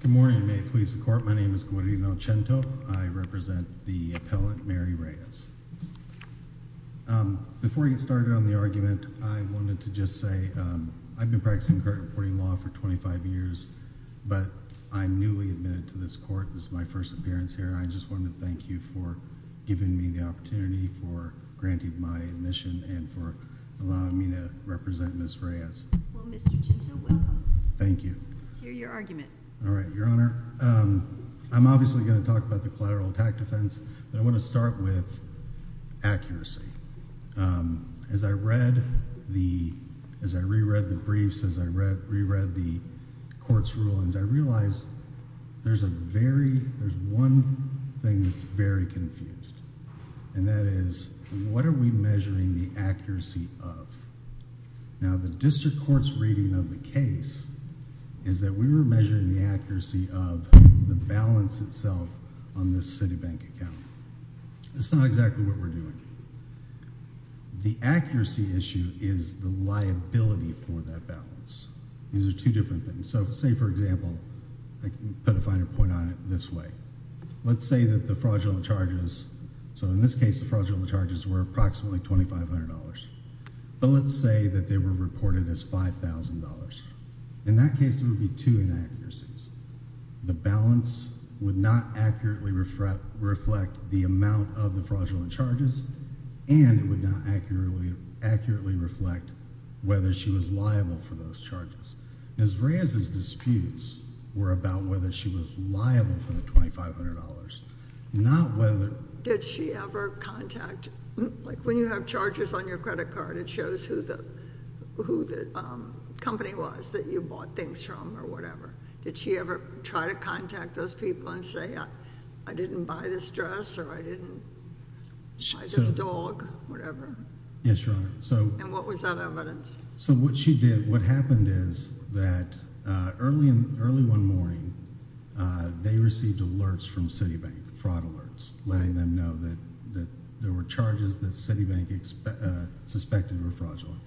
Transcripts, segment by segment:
Good morning. May it please the court, my name is Guarino Chento. I represent the appellate Mary Reyes. Before I get started on the argument, I wanted to just say I've been practicing court reporting law for 25 years, but I'm newly admitted to this court. This is my first appearance here. I just wanted to thank you for giving me the opportunity, for granting me my admission, and for allowing me to represent Ms. Reyes. Well, Mr. Chento, welcome. Thank you. Let's hear your argument. All right, Your Honor. I'm obviously going to talk about the collateral attack defense, but I want to start with accuracy. As I read the, as I reread the briefs, as I reread the court's rulings, I realized there's a very, there's one thing that's very confused, and that is, what are we measuring the accuracy of? Now, the district court's reading of the case is that we were measuring the accuracy of the balance itself on this Citibank account. That's not exactly what we're doing. The accuracy issue is the liability for that balance. These are two different things. Say, for example, I can put a finer point on it this way. Let's say that the fraudulent charges, so in this case, the fraudulent charges were approximately $2,500, but let's say that they were reported as $5,000. In that case, there would be two inaccuracies. The balance would not accurately reflect the amount of the fraudulent charges, and it would not accurately reflect whether she was liable for those charges. Ms. Reyes's Did she ever contact, like when you have charges on your credit card, it shows who the company was that you bought things from, or whatever. Did she ever try to contact those people and say, I didn't buy this dress, or I didn't buy this dog, whatever. Yes, Your Honor. And what was that evidence? So what she did, what happened is that early one morning, they received alerts from Citibank, fraud alerts, letting them know that there were charges that Citibank suspected were fraudulent.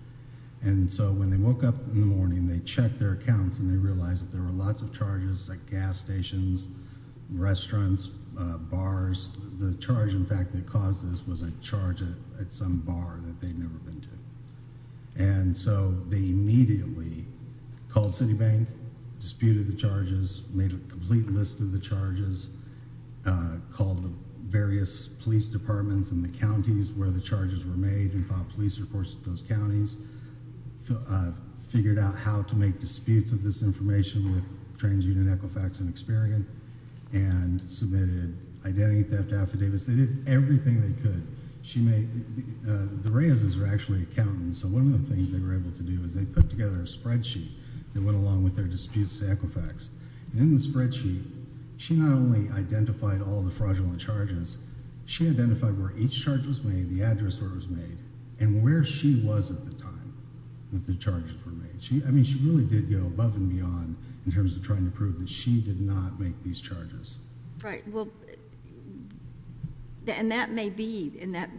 And so when they woke up in the morning, they checked their accounts and they realized that there were lots of charges, like gas stations, restaurants, bars. The charge, in fact, that caused this was a charge at some bar that they'd never been to. And so they immediately called Citibank, disputed the charges, made a complete list of the charges, called the various police departments in the counties where the charges were made, and filed police reports to those counties, figured out how to make disputes of this information with TransUnion, Equifax, and Experian, and submitted identity theft affidavits. They did everything they could. The Reyes's are actually accountants, so one of the things they were able to do is they put together a spreadsheet that went along with their disputes to Equifax. In the spreadsheet, she not only identified all the fraudulent charges, she identified where each charge was made, the address where it was made, and where she was at the time that the charges were made. I mean, she really did go above and beyond in terms of trying to prove that she did not make these charges. Right. Well, and that may be, and that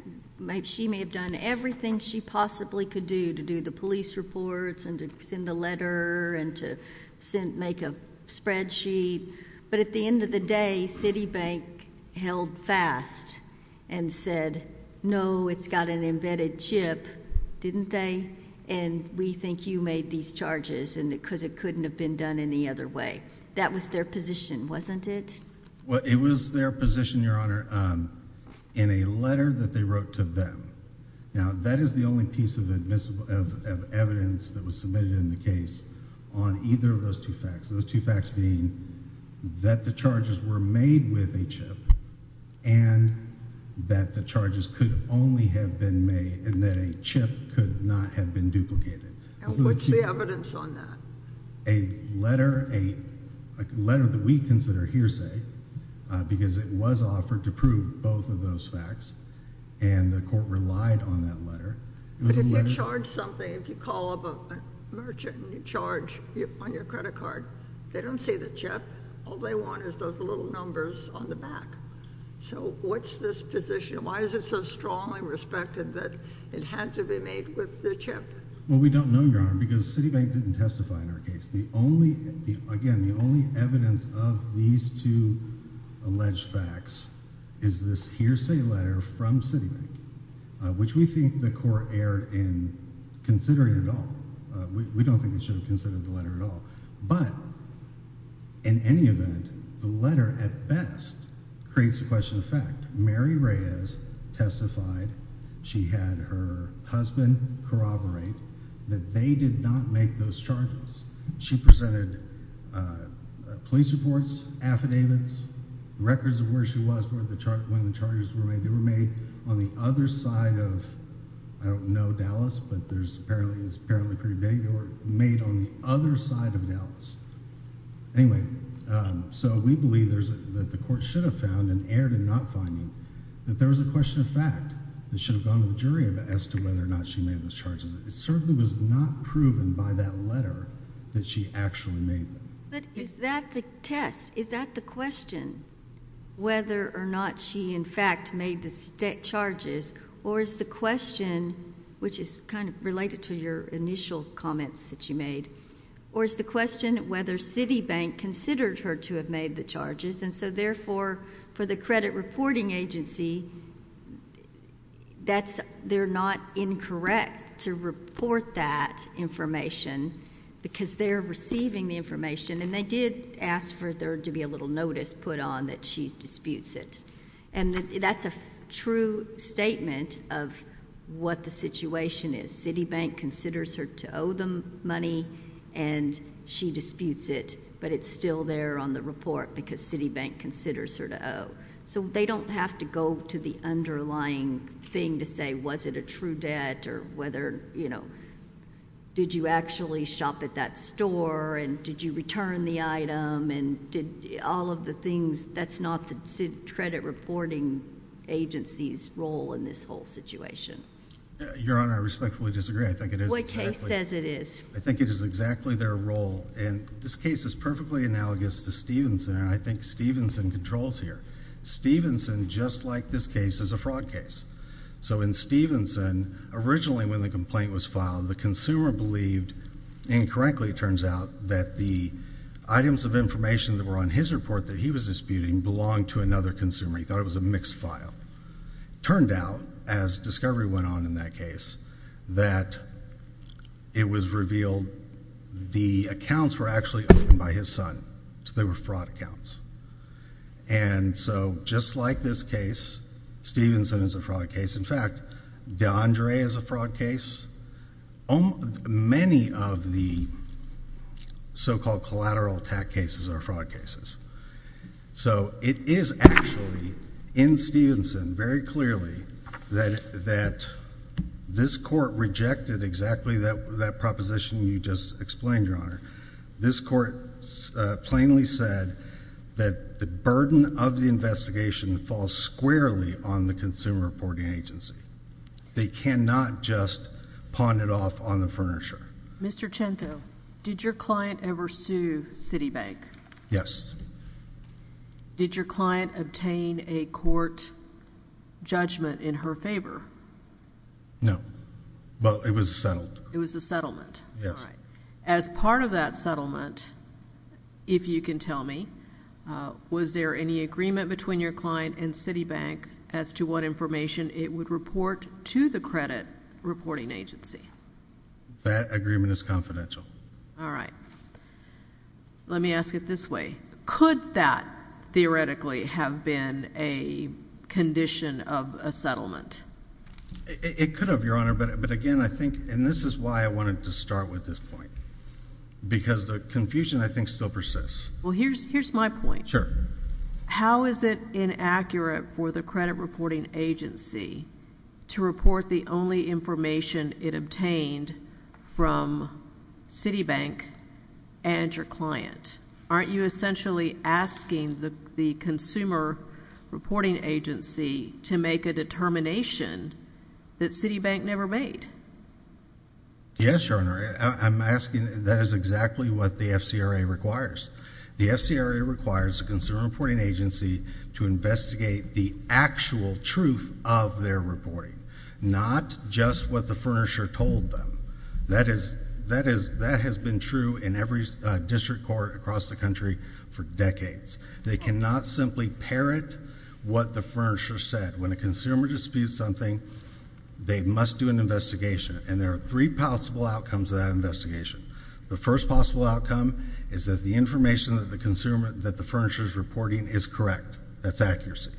she may have done everything she possibly could to do, to do the police reports, and to send the letter, and to make a spreadsheet, but at the end of the day, Citibank held fast and said, no, it's got an embedded chip, didn't they? And we think you made these charges because it couldn't have been done any other way. That was their position, wasn't it? Well, it was their position, Your Honor, in a letter that they wrote to them. Now, that is the only piece of evidence that was submitted in the case on either of those two facts. Those two facts being that the charges were made with a chip, and that the charges could only have been made, and that a chip could not have been duplicated. And what's the evidence on that? A letter, a letter that we consider hearsay, because it was offered to prove both of those facts, and the court relied on that letter. But if you charge something, if you call up a merchant and you charge on your credit card, they don't see the chip. All they want is those little numbers on the back. So what's this position? Why is it so strongly respected that it had to be made with the chip? Well, we don't know, Your Honor, because Citibank didn't testify in our case. The only, again, the only evidence of these two alleged facts is this hearsay letter from Citibank, which we think the court erred in considering at all. We don't think they should have considered the letter at all. But in any event, the letter, at best, creates a question of fact. Mary Reyes testified. She had her husband corroborate that they did not make those charges. She presented police reports, affidavits, records of where she was when the charges were made. They were made on the other side of, I don't know, Dallas, but there's apparently, it's apparently pretty big. They were made on the other side of Dallas. Anyway, so we believe there's a, that the court should have found and erred in not finding that there was a question of fact that should have gone to the jury as to whether or not she made those charges. It certainly was not proven by that letter that she actually made them. But is that the test? Is that the question, whether or not she, in fact, made the charges, or is the question, which is kind of related to your initial comments that you made, or is the question whether Citibank considered her to have made the charges? Therefore, for the credit reporting agency, they're not incorrect to report that information because they're receiving the information, and they did ask for there to be a little notice put on that she disputes it. That's a true statement of what the situation is. Citibank considers her to owe them money, and she disputes it, but it's still there on the report because Citibank considers her to owe. So they don't have to go to the underlying thing to say, was it a true debt, or whether, you know, did you actually shop at that store, and did you return the item, and did all of the things, that's not the credit reporting agency's role in this whole situation. Your Honor, I respectfully disagree. I think it is exactly... What case says it is? I think it is exactly their role, and this case is perfectly analogous to Stevenson, and I think Stevenson controls here. Stevenson, just like this case, is a fraud case. So in Stevenson, originally when the complaint was filed, the consumer believed incorrectly, it turns out, that the items of information that were on his report that he was disputing belonged to another consumer. He thought it was a mixed file. It turned out, as discovery went on in that case, that it was revealed the accounts were actually owned by his son, so they were fraud accounts. And so just like this case, Stevenson is a fraud case. In fact, DeAndre is a fraud case. Many of the so-called collateral attack cases are fraud cases. So it is actually in Stevenson, very clearly, that this Court rejected exactly that proposition you just explained, Your Honor. This Court plainly said that the burden of the investigation falls squarely on the consumer reporting agency. They cannot just pawn it off on the furniture. Mr. Cento, did your client ever sue Citibank? Yes. Did your client obtain a court judgment in her favor? No, but it was settled. It was a settlement? Yes. All right. As part of that settlement, if you can tell me, was there any agreement between your client and Citibank as to what information it would report to the credit reporting agency? That agreement is confidential. All right. Let me ask it this way. Could that theoretically have been a condition of a It could have, Your Honor, but again, I think, and this is why I wanted to start with this point, because the confusion, I think, still persists. Well, here's my point. Sure. How is it inaccurate for the credit reporting agency to report the only information it obtained from Citibank and your client? Aren't you essentially asking the consumer reporting agency to make a determination that Citibank never made? Yes, Your Honor. I'm asking, that is exactly what the FCRA requires. The FCRA requires the consumer reporting agency to investigate the actual truth of their reporting, not just what the furnisher told them. That has been true in every district court across the country for decades. They cannot simply parrot what the furnisher said. When a consumer disputes something, they must do an investigation, and there are three possible outcomes of that investigation. The first possible outcome is that the information that the furnisher is reporting is correct. That's accuracy.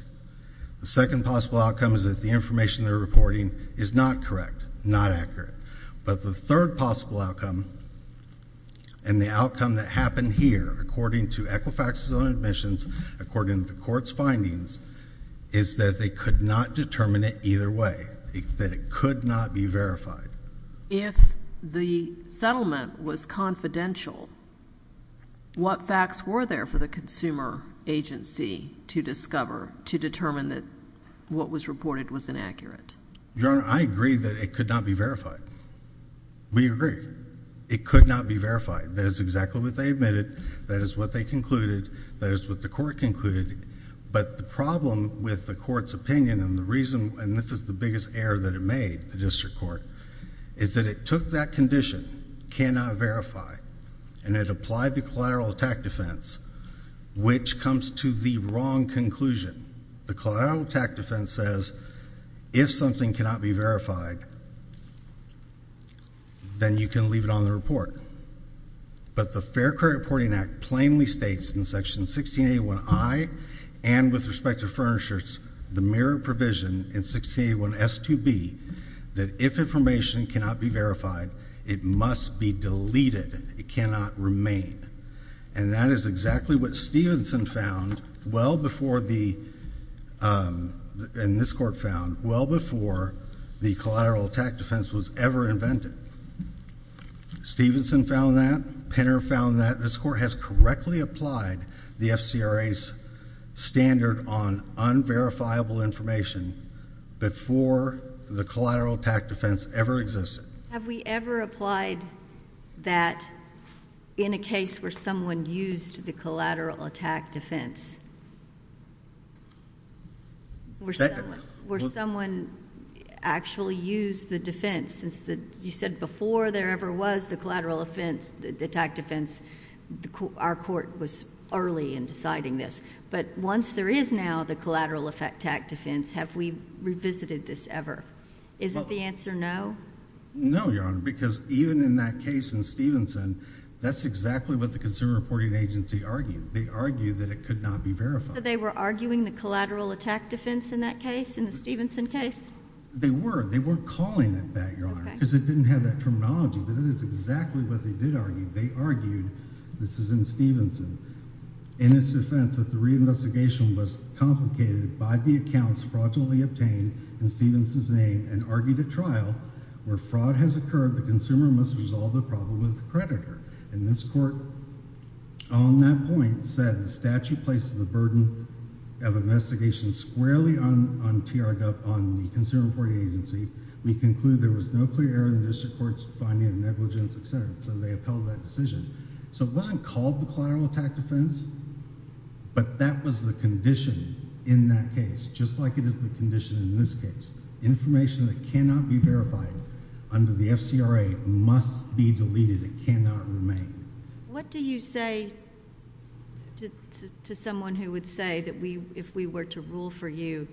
The second possible outcome is that the information they're reporting is not correct, not accurate. But the third possible outcome, and the outcome that happened here, according to Equifax's own admissions, according to the court's findings, is that they could not determine it either way, that it could not be verified. If the settlement was confidential, what facts were there for the consumer agency to discover, to determine that what was reported was inaccurate? I agree that it could not be verified. We agree. It could not be verified. That is exactly what they admitted. That is what they concluded. That is what the court concluded. But the problem with the court's opinion, and this is the biggest error that it made, the district court, is that it took that condition, cannot verify, and it applied the collateral attack defense, which comes to the wrong conclusion. The collateral attack defense says, if something cannot be verified, then you can leave it on the report. But the Fair Credit Reporting Act plainly states in Section 1681I and with respect to furnishers, the merit provision in 1681S2B, that if information cannot be verified, it must be deleted. It cannot remain. And that is exactly what Stevenson found well before the, and this court found, well before the collateral attack defense was ever invented. Stevenson found that. Penner found that. This court has correctly applied the FCRA's standard on unverifiable information before the collateral attack defense ever existed. Have we ever applied that in a case where someone used the collateral attack defense? Where someone actually used the defense? You said before there ever was the collateral attack defense, our court was early in deciding this. But once there is now the collateral attack defense, have we revisited this ever? Is it the answer no? No, Your Honor, because even in that case in Stevenson, that's exactly what the Consumer Reporting Agency argued. They argued that it could not be verified. So they were arguing the collateral attack defense in that case, in the Stevenson case? They were. They were calling it that, Your Honor, because it didn't have that terminology. But it is exactly what they did argue. They argued, this is in Stevenson, in its defense that the reinvestigation was complicated by the accounts fraudulently obtained in Stevenson's name and argued at trial where fraud has occurred, the consumer must resolve the problem with the creditor. And this court on that point said the statute places the burden of investigation squarely on TRW, on the Consumer Reporting Agency. We conclude there was no clear error in the district court's finding of negligence, etc. So they upheld that decision. So it wasn't called the collateral attack defense, but that was the condition in that case, just like it is the condition in this case. Information that cannot be verified under the FCRA must be deleted. It cannot remain. What do you say to someone who would say that if we were to rule for you,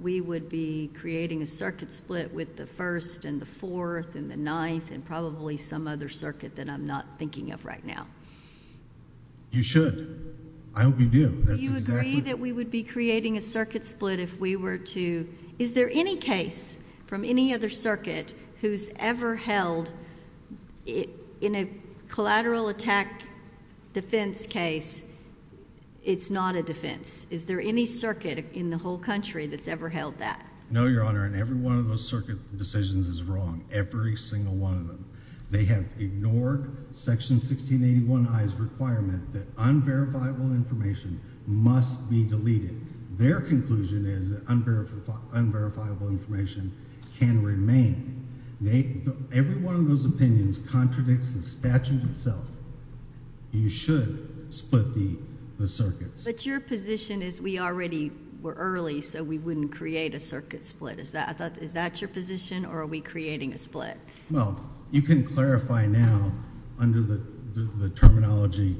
we would be creating a circuit split with the first and the fourth and the ninth and probably some other circuit that I'm not thinking of right now? You should. I hope you do. Do you agree that we would be creating a circuit split if we were to... Is there any case from any other circuit who's ever held in a collateral attack defense case, it's not a defense? Is there any circuit in the whole country that's ever held that? No, Your Honor, in every one of those circuit decisions is wrong, every single one of them. They have ignored Section 1681I's requirement that unverifiable information must be deleted. Their conclusion is that unverifiable information can remain. Every one of those opinions contradicts the statute itself. You should split the circuits. But your position is we already were early, so we wouldn't create a circuit split. Is that your position or are we creating a split? Well, you can clarify now under the terminology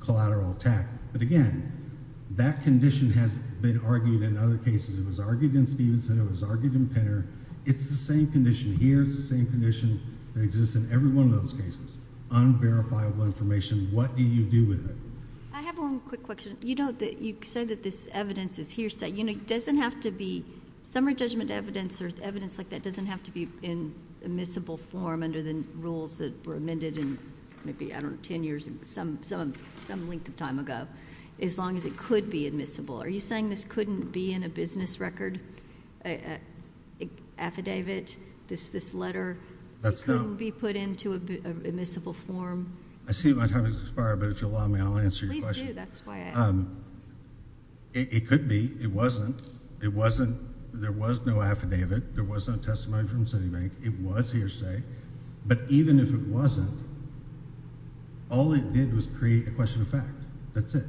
collateral attack. But again, that condition has been argued in other cases. It was argued in Stevenson. It was argued in Penner. It's the same condition here. It's the same condition that exists in every one of those cases. Unverifiable information, what do you do with it? I have one quick question. You said that this evidence is hearsay. It doesn't have to be summary judgment evidence or evidence like that doesn't have to be in admissible form under the rules that were amended in maybe, I don't know, 10 years, some length of time ago, as long as it could be admissible. Are you saying this couldn't be in a business record affidavit, this letter? It couldn't be put into admissible form? I see my time has expired, but if you'll allow me, I'll answer your question. It could be. It wasn't. There was no affidavit. There was no testimony from Citibank. It was hearsay. But even if it wasn't, all it did was create a question of fact. That's it.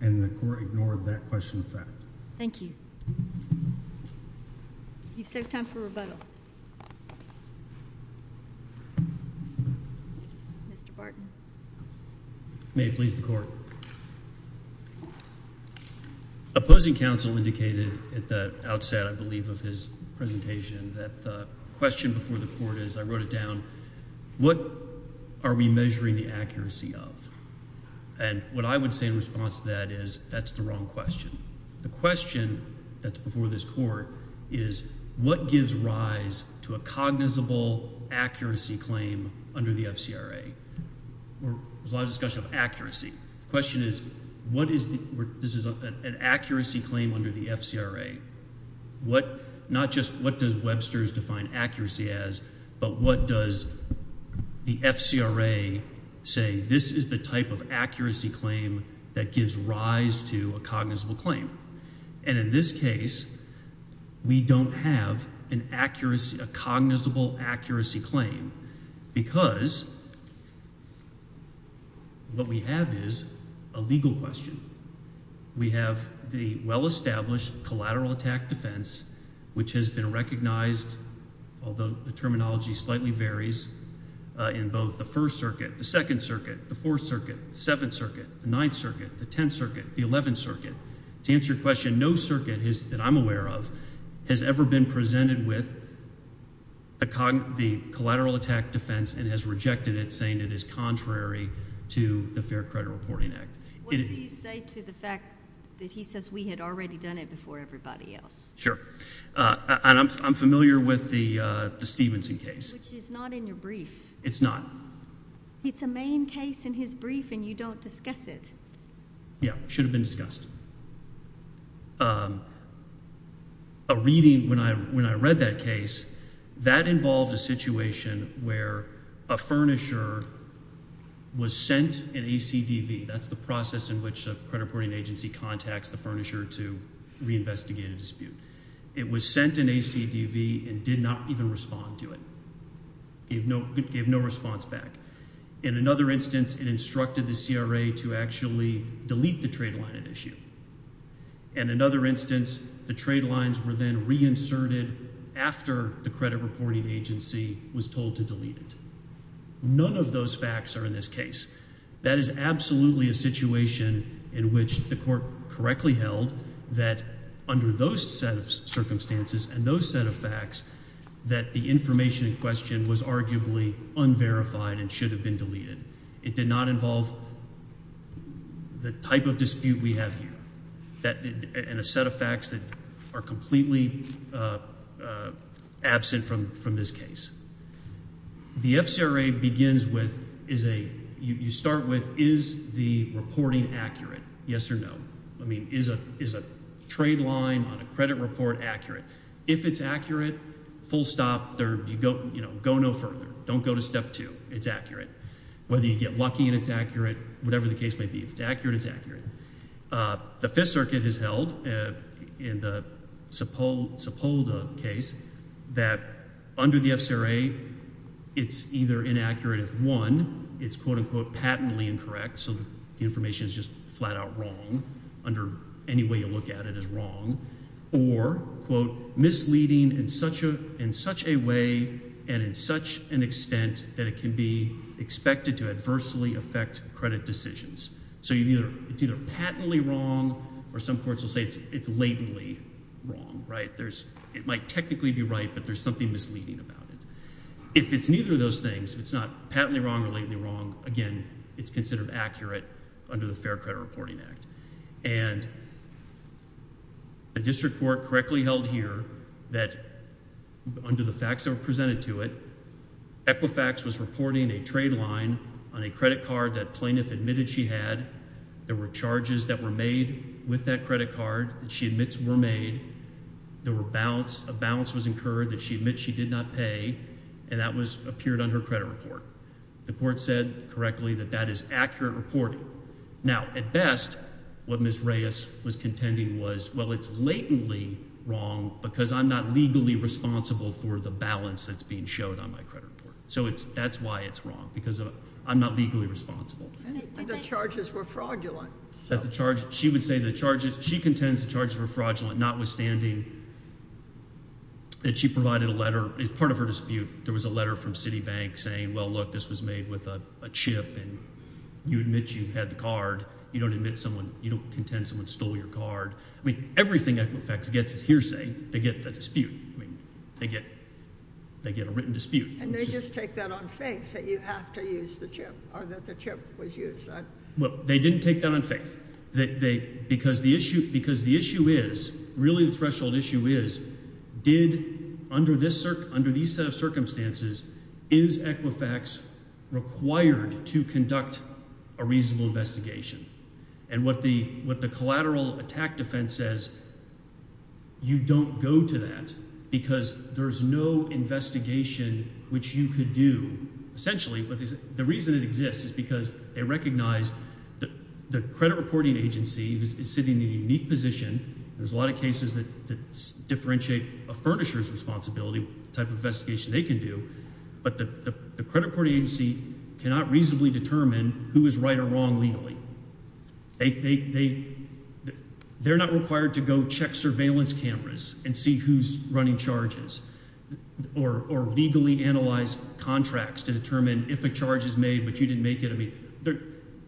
And the court ignored that question of fact. Thank you. You've saved time for rebuttal. Mr. Barton. May it please the court. Opposing counsel indicated at the outset, I believe, of his presentation that the question before the court is, I wrote it down, what are we measuring the accuracy of? And what I would say in response to that is that's the wrong question. The question that's before this court is, what gives rise to a cognizable accuracy claim under the FCRA? There's a lot of discussion of accuracy. The question is, this is an accuracy claim under the FCRA. Not just what does Webster's define accuracy as, but what does the FCRA say, this is the type of accuracy claim that gives rise to a cognizable claim. And in this case, we don't have an accuracy, a cognizable accuracy claim, because what we have is a legal question. We have the well-established collateral attack defense, which has been recognized, although the terminology slightly varies, in both the First Circuit, the Second Circuit, the Fourth Circuit, the Seventh Circuit, the Ninth Circuit, the Tenth Circuit, the Eleventh Circuit. To answer your question, no circuit that I'm aware of has ever been presented with the collateral attack defense and has rejected it, saying it is contrary to the Fair Credit Reporting Act. What do you say to the fact that he says we had already done it before everybody else? Sure. And I'm familiar with the Stevenson case. Which is not in your brief. It's not. It's a main case in his brief and you don't discuss it. Yeah, should have been discussed. A reading when I read that case, that involved a situation where a furnisher was sent an ACDV. That's the process in which a credit reporting agency contacts the furnisher to reinvestigate a dispute. It was sent an ACDV and did not even respond to it. Gave no response back. In another instance, it instructed the CRA to actually delete the trade line at issue. And another instance, the trade lines were then reinserted after the credit reporting agency was told to delete it. None of those facts are in this case. That is absolutely a situation in which the court correctly held that under those set of circumstances and those set of facts, that the information in question was arguably unverified and should have been deleted. It did not involve the type of dispute we have here. And a set of is the reporting accurate? Yes or no? I mean, is a trade line on a credit report accurate? If it's accurate, full stop. Go no further. Don't go to step two. It's accurate. Whether you get lucky and it's accurate, whatever the case may be. If it's accurate, it's accurate. The Fifth Circuit has held in the Sepulveda case that under the FCRA, it's either inaccurate if one, it's, quote, unquote, patently incorrect, so the information is just flat out wrong under any way you look at it as wrong, or, quote, misleading in such a way and in such an extent that it can be expected to adversely affect credit decisions. So it's either patently wrong, or some courts will say it's latently wrong, right? It might technically be right, but there's something misleading about it. If it's neither of those things, if it's not patently wrong or latently wrong, again, it's considered accurate under the Fair Credit Reporting Act. And a district court correctly held here that under the facts that were presented to it, Equifax was reporting a trade line on a credit card that plaintiff admitted she had. There were charges that were made with that credit card that she admits were made. There were balance. A balance was incurred that she admits she did not pay, and that appeared on her credit report. The court said correctly that that is accurate reporting. Now, at best, what Ms. Reyes was contending was, well, it's latently wrong because I'm not legally responsible for the balance that's being showed on my credit report. So that's why it's wrong, because I'm not legally responsible. And the charges were fraudulent. She would say the charges were fraudulent, notwithstanding that she provided a letter. It's part of her dispute. There was a letter from Citibank saying, well, look, this was made with a chip, and you admit you had the card. You don't admit someone. You don't contend someone stole your card. I mean, everything Equifax gets is hearsay. They get a dispute. I mean, they get a written dispute. And they just take that on faith that you have to use the chip or that the chip was used. Well, they didn't take that on faith. Because the issue is, really the threshold issue is, did, under these circumstances, is Equifax required to conduct a reasonable investigation? And what the collateral attack defense says, you don't go to that because there's no investigation which you could do, essentially. But the reason it exists is because they recognize the credit reporting agency is sitting in a unique position. There's a lot of cases that differentiate a furnisher's responsibility, the type of investigation they can do. But the credit reporting agency cannot reasonably determine who is right or wrong legally. They're not required to go check surveillance cameras and see who's running charges or legally analyze contracts to determine if a charge is made, but you didn't make it. I mean,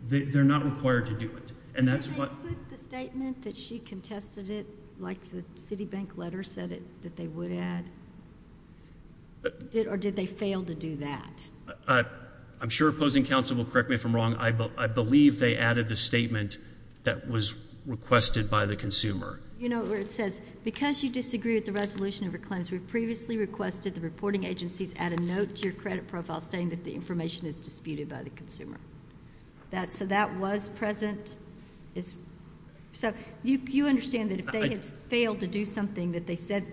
they're not required to do it. And that's what... Did they put the statement that she contested it, like the Citibank letter said that they would add? Or did they fail to do that? I'm sure opposing counsel will correct me if I'm wrong. I believe they added the statement that was requested by the consumer. You know where it says, because you disagree with the resolution of her claims, we've previously requested the reporting agencies add a note to your credit profile stating that the information is disputed by the consumer. So that was present. So you understand that if they had failed to do something that they said,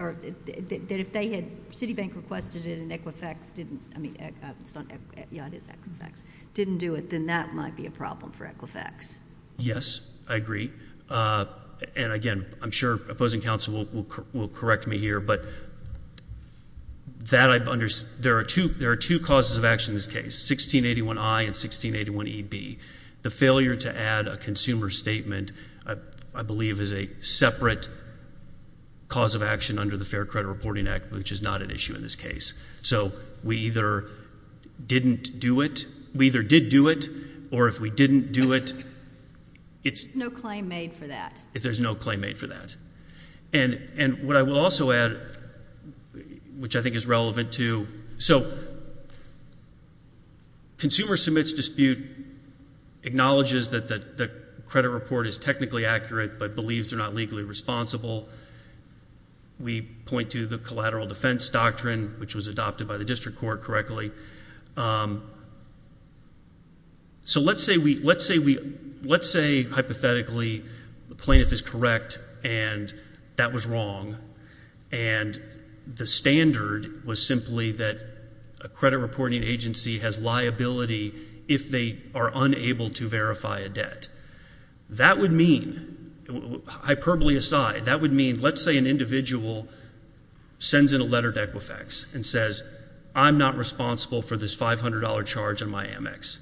or that if they had, Citibank requested it and Equifax didn't, I mean, it's not, yeah, it is Equifax, didn't do it, then that might be a problem for Equifax. Yes, I agree. And again, I'm sure opposing counsel will correct me here, but that I've understood. There are two causes of action in this case, 1681I and 1681EB. The failure to add a consumer statement, I believe, is a separate cause of action under the Fair Credit Reporting Act, which is not an issue in this case. So we either didn't do it, we either did do it, or if we didn't do it, it's— There's no claim made for that. There's no claim made for that. And what I will also add, which I think is relevant to, so consumer submits dispute, acknowledges that the credit report is technically accurate, but believes they're not legally responsible. We point to the collateral defense doctrine, which was adopted by the district court correctly. So let's say, hypothetically, the plaintiff is correct and that was wrong, and the standard was simply that a credit reporting agency has liability if they are unable to verify a debt. That would mean, hyperbole aside, that let's say an individual sends in a letter to Equifax and says, I'm not responsible for this $500 charge on my Amex.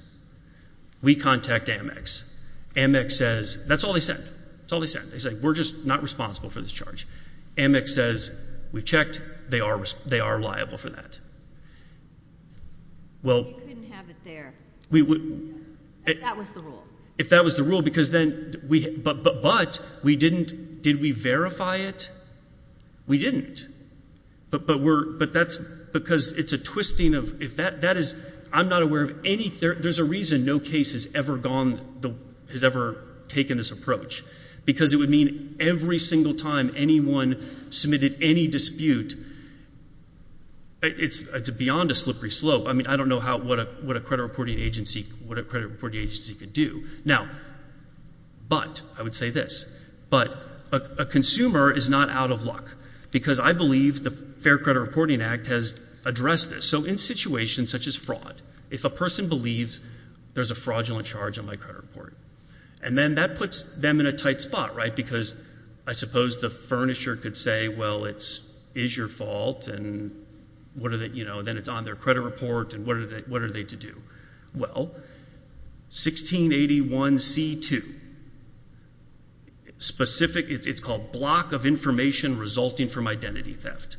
We contact Amex. Amex says—that's all they said. That's all they said. They said, we're just not responsible for this charge. Amex says, we've checked, they are liable for that. Well— You couldn't have it there, if that was the rule. Because then—but we didn't—did we verify it? We didn't. But we're—but that's—because it's a twisting of—if that—that is—I'm not aware of any—there's a reason no case has ever gone—has ever taken this approach, because it would mean every single time anyone submitted any dispute, it's beyond a slippery slope. I mean, I don't know how—what a credit reporting agency—what a credit reporting agency could do. Now, but—I would say this—but a consumer is not out of luck, because I believe the Fair Credit Reporting Act has addressed this. So in situations such as fraud, if a person believes there's a fraudulent charge on my credit report, and then that puts them in a tight spot, right, because I suppose the furnisher could say, well, it's—is your fault, and what are the—you know, then it's on their credit report, and what are they—what are they to do? Well, 1681c2, specific—it's called Block of Information Resulting from Identity Theft,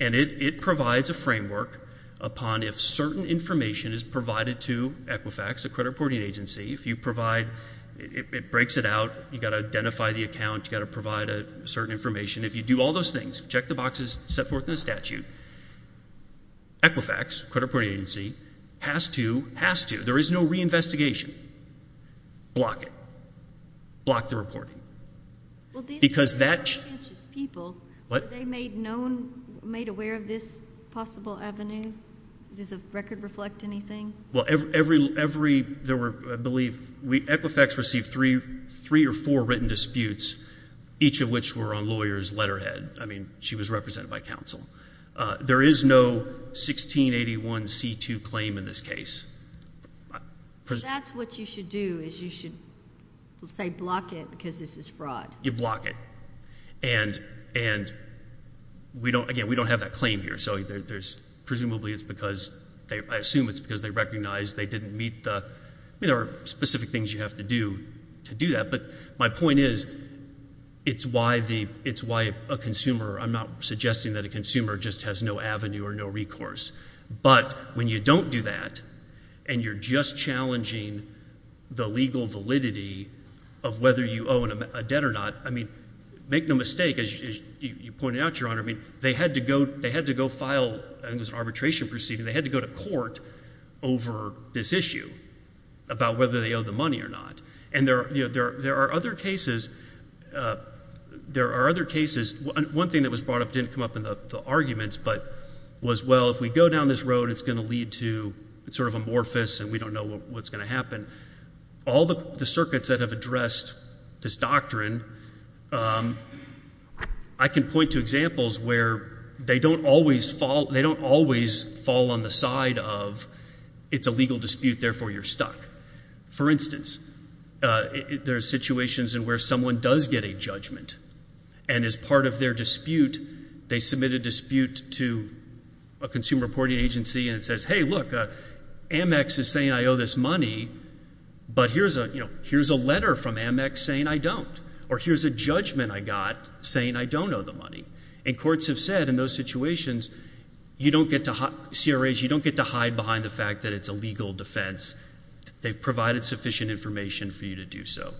and it provides a framework upon if certain information is provided to Equifax, a credit reporting agency, if you provide—it breaks it out. You've got to identify the account. You've got to provide a certain information. If you do all those things, check the boxes set forth in the statute, and Equifax, a credit reporting agency, has to—has to—there is no reinvestigation. Block it. Block the reporting, because that— Well, these are conscientious people. What? Were they made known—made aware of this possible avenue? Does the record reflect anything? Well, every—there were, I believe—Equifax received three or four written disputes, each of which were on lawyers' letterhead. I mean, she was represented by counsel. There is no 1681c2 claim in this case. So that's what you should do, is you should, let's say, block it because this is fraud. You block it, and we don't—again, we don't have that claim here, so there's—presumably it's because they—I assume it's because they recognized they didn't meet the—I mean, there are specific things you have to do to do that, but my point is it's why the—it's why a consumer—I'm not suggesting that a consumer just has no avenue or no recourse, but when you don't do that and you're just challenging the legal validity of whether you owe a debt or not—I mean, make no mistake, as you pointed out, Your Honor, I mean, they had to go—they had to go file—I think it was an arbitration proceeding—they had to go to court over this issue about whether they owed the money or not, and there are other cases—there are other cases—one thing that was brought up, didn't come up in the arguments, but was, well, if we go down this road, it's going to lead to—it's sort of amorphous and we don't know what's going to happen. All the circuits that have addressed this doctrine, I can point to examples where they don't always fall—they don't always fall on the side of it's a legal dispute, therefore you're stuck. For instance, there are situations in where someone does get a judgment, and as part of their dispute, they submit a dispute to a consumer reporting agency and it says, hey, look, Amex is saying I owe this money, but here's a letter from Amex saying I don't, or here's a judgment I got saying I don't owe the money, and courts have said in those situations, you don't get to—CRAs, you don't get to hide behind the fact that it's a legal defense. They've provided sufficient information for you to do so.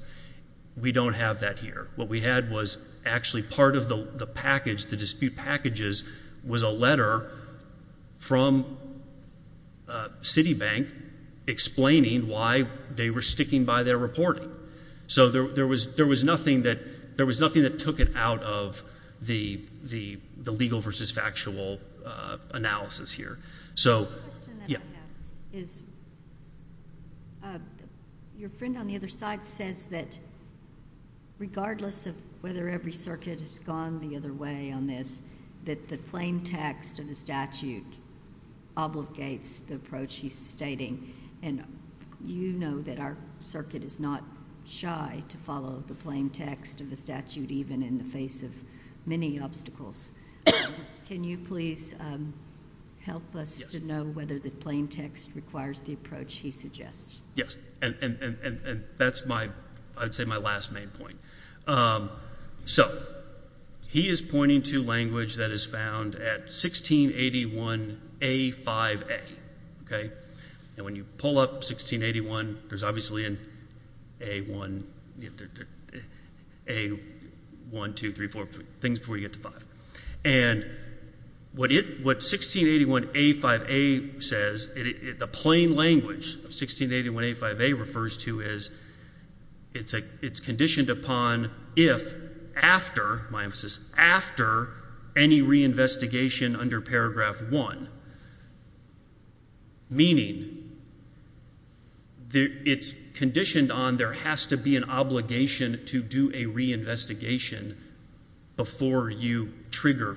We don't have that here. What we had was actually part of the package, the dispute packages, was a letter from Citibank explaining why they were sticking by their reporting. So there was nothing that took it out of the legal versus factual analysis here. The question that I have is your friend on the other side says that regardless of whether every circuit has gone the other way on this, that the plain text of the statute obligates the approach he's stating, and you know that our circuit is not shy to follow the plain text of the statute even in the face of many obstacles. Can you please help us to know whether the plain text requires the approach he suggests? Yes, and that's my, I'd say my last main point. So he is pointing to language that is found at 1681A5A, okay? And when you pull up 1681, there's obviously an A1, A1, 2, 3, 4, things before you says, the plain language of 1681A5A refers to is, it's conditioned upon if after, my emphasis, after any reinvestigation under paragraph one, meaning it's conditioned on there has to be an obligation to do a reinvestigation before you trigger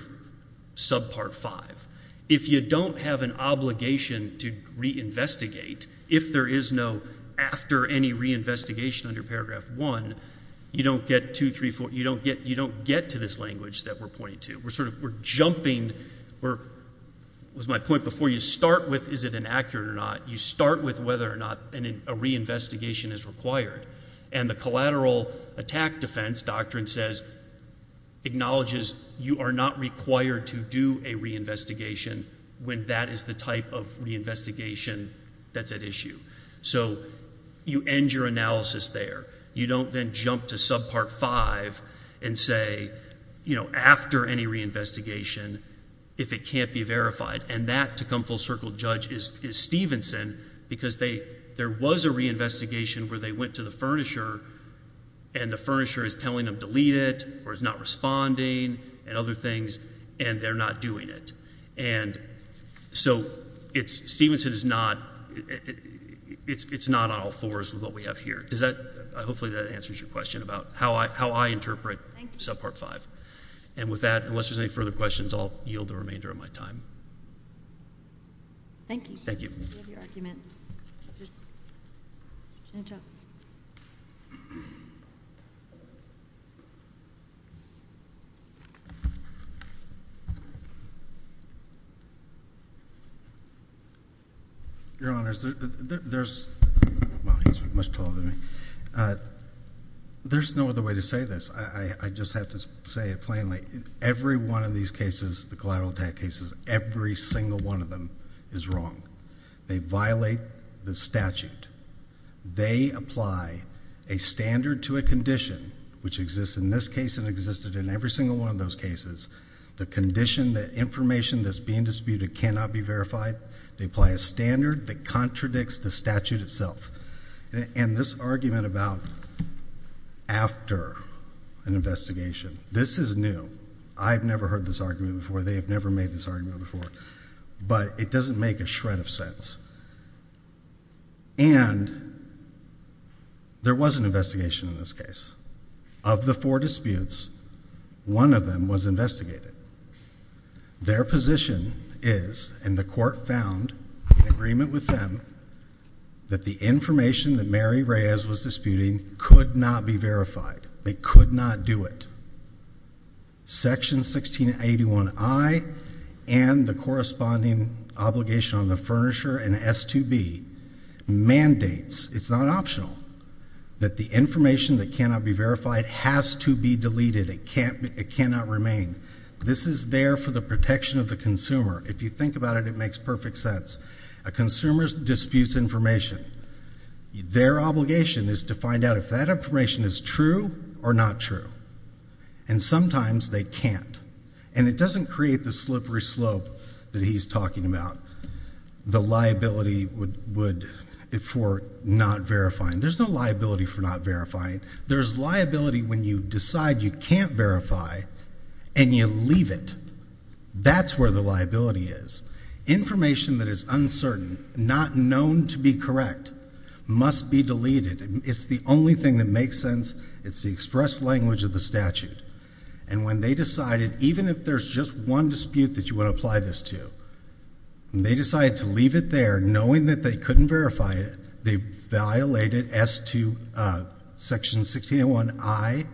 subpart five. If you don't have an obligation to reinvestigate, if there is no after any reinvestigation under paragraph one, you don't get 2, 3, 4, you don't get, you don't get to this language that we're pointing to. We're sort of, we're jumping, we're, was my point before, you start with is it inaccurate or not, you start with whether or not a reinvestigation is required, and the collateral attack defense doctrine says, acknowledges you are not required to do a reinvestigation when that is the type of reinvestigation that's at issue. So you end your analysis there. You don't then jump to subpart five and say, you know, after any reinvestigation, if it can't be verified, and that to come full circle judge is, is Stevenson, because they, there was a furnisher and the furnisher is telling them delete it or is not responding and other things, and they're not doing it. And so it's, Stevenson is not, it's, it's not on all fours with what we have here. Does that, hopefully that answers your question about how I, how I interpret subpart five. And with that, unless there's any further questions, I'll yield the remainder of my time. Thank you. Thank you. Your honors, there's, well, he's much taller than me. There's no other way to say this. I, I, I believe every single one of them is wrong. They violate the statute. They apply a standard to a condition, which exists in this case and existed in every single one of those cases. The condition, the information that's being disputed cannot be verified. They apply a standard that contradicts the statute itself. And this argument about after an investigation, this is new. I've never heard this argument before. They have never made this argument before, but it doesn't make a shred of sense. And there was an investigation in this case. Of the four disputes, one of them was investigated. Their position is, and the court found in agreement with them, that the information that Mary Reyes was disputing could not be verified. They could not do it. Section 1681I and the corresponding obligation on the furnisher and S2B mandates, it's not optional, that the information that cannot be verified has to be deleted. It can't, it cannot remain. This is there for the protection of the consumer. If you think about it, it makes perfect sense. A consumer disputes information. Their obligation is to find out if that information is true or not true. And sometimes they can't. And it doesn't create the slippery slope that he's talking about, the liability for not verifying. There's no liability for not verifying. There's liability when you decide you can't verify and you leave it. That's where the liability is. Information that is uncertain, not known to be correct, must be deleted. It's the only thing that makes sense. It's the express language of the statute. And when they decided, even if there's just one dispute that you want to apply this to, they decided to leave it there, knowing that they couldn't verify it. They violated S2, Section 1681I,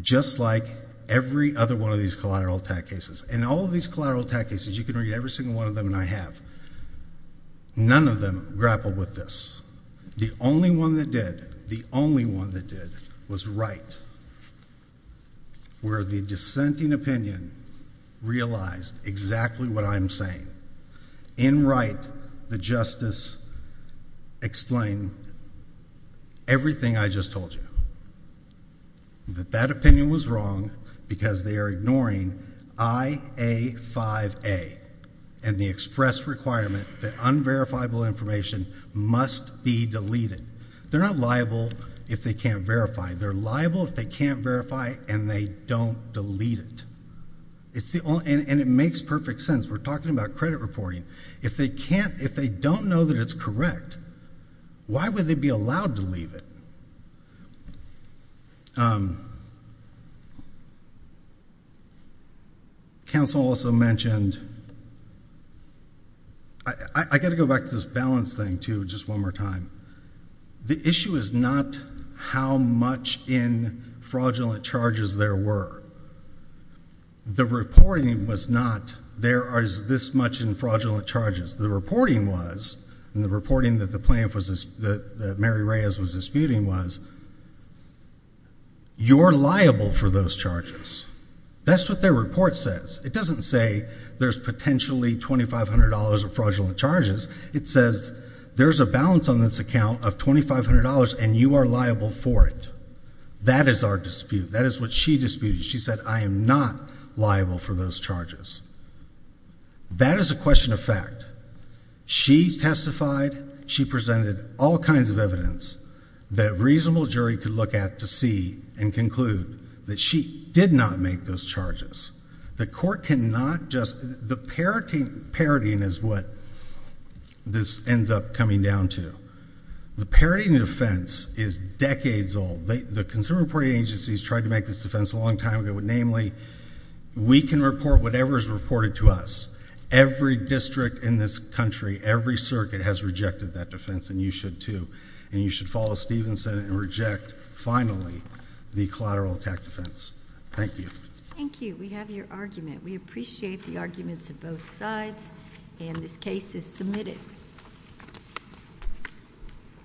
just like every other one of these collateral attack cases. In all of these collateral attack cases, you can read every single one of them, and I have, none of them grappled with this. The only one that did, the only one that did, was Wright, where the dissenting opinion realized exactly what I'm saying. In Wright, the justice explained everything I just told you, that that opinion was wrong because they are ignoring IA5A and the express requirement that unverifiable information must be deleted. They're not liable if they can't verify. They're liable if they can't verify and they don't delete it. And it makes perfect sense. We're talking about credit reporting. If they don't know that it's correct, why would they be allowed to leave it? Council also mentioned, I got to go back to this balance thing too, just one more time. The issue is not how much in fraudulent charges there were. The reporting was not, there is this much in fraudulent charges. The reporting was, and the reporting that Mary Reyes was disputing was, you're liable for those charges. That's what their report says. It doesn't say there's potentially $2,500 of fraudulent charges. It says there's a balance on this account of $2,500 and you are liable for it. That is our dispute. That is what she disputed. She said, I am not liable for those charges. That is a question of fact. She testified, she presented all kinds of evidence that a reasonable jury could look at to see and conclude that she did not make those charges. The court cannot just, the parodying is what this ends up coming down to. The parodying of offense is decades old. The consumer reporting agencies tried to make this defense a long time ago. Namely, we can report whatever is reported to us. Every district in this country, every circuit has rejected that defense and you should too. You should follow Stevenson and reject, finally, the collateral attack defense. Thank you. Thank you. We have your argument. We appreciate the arguments of both sides and this case is submitted.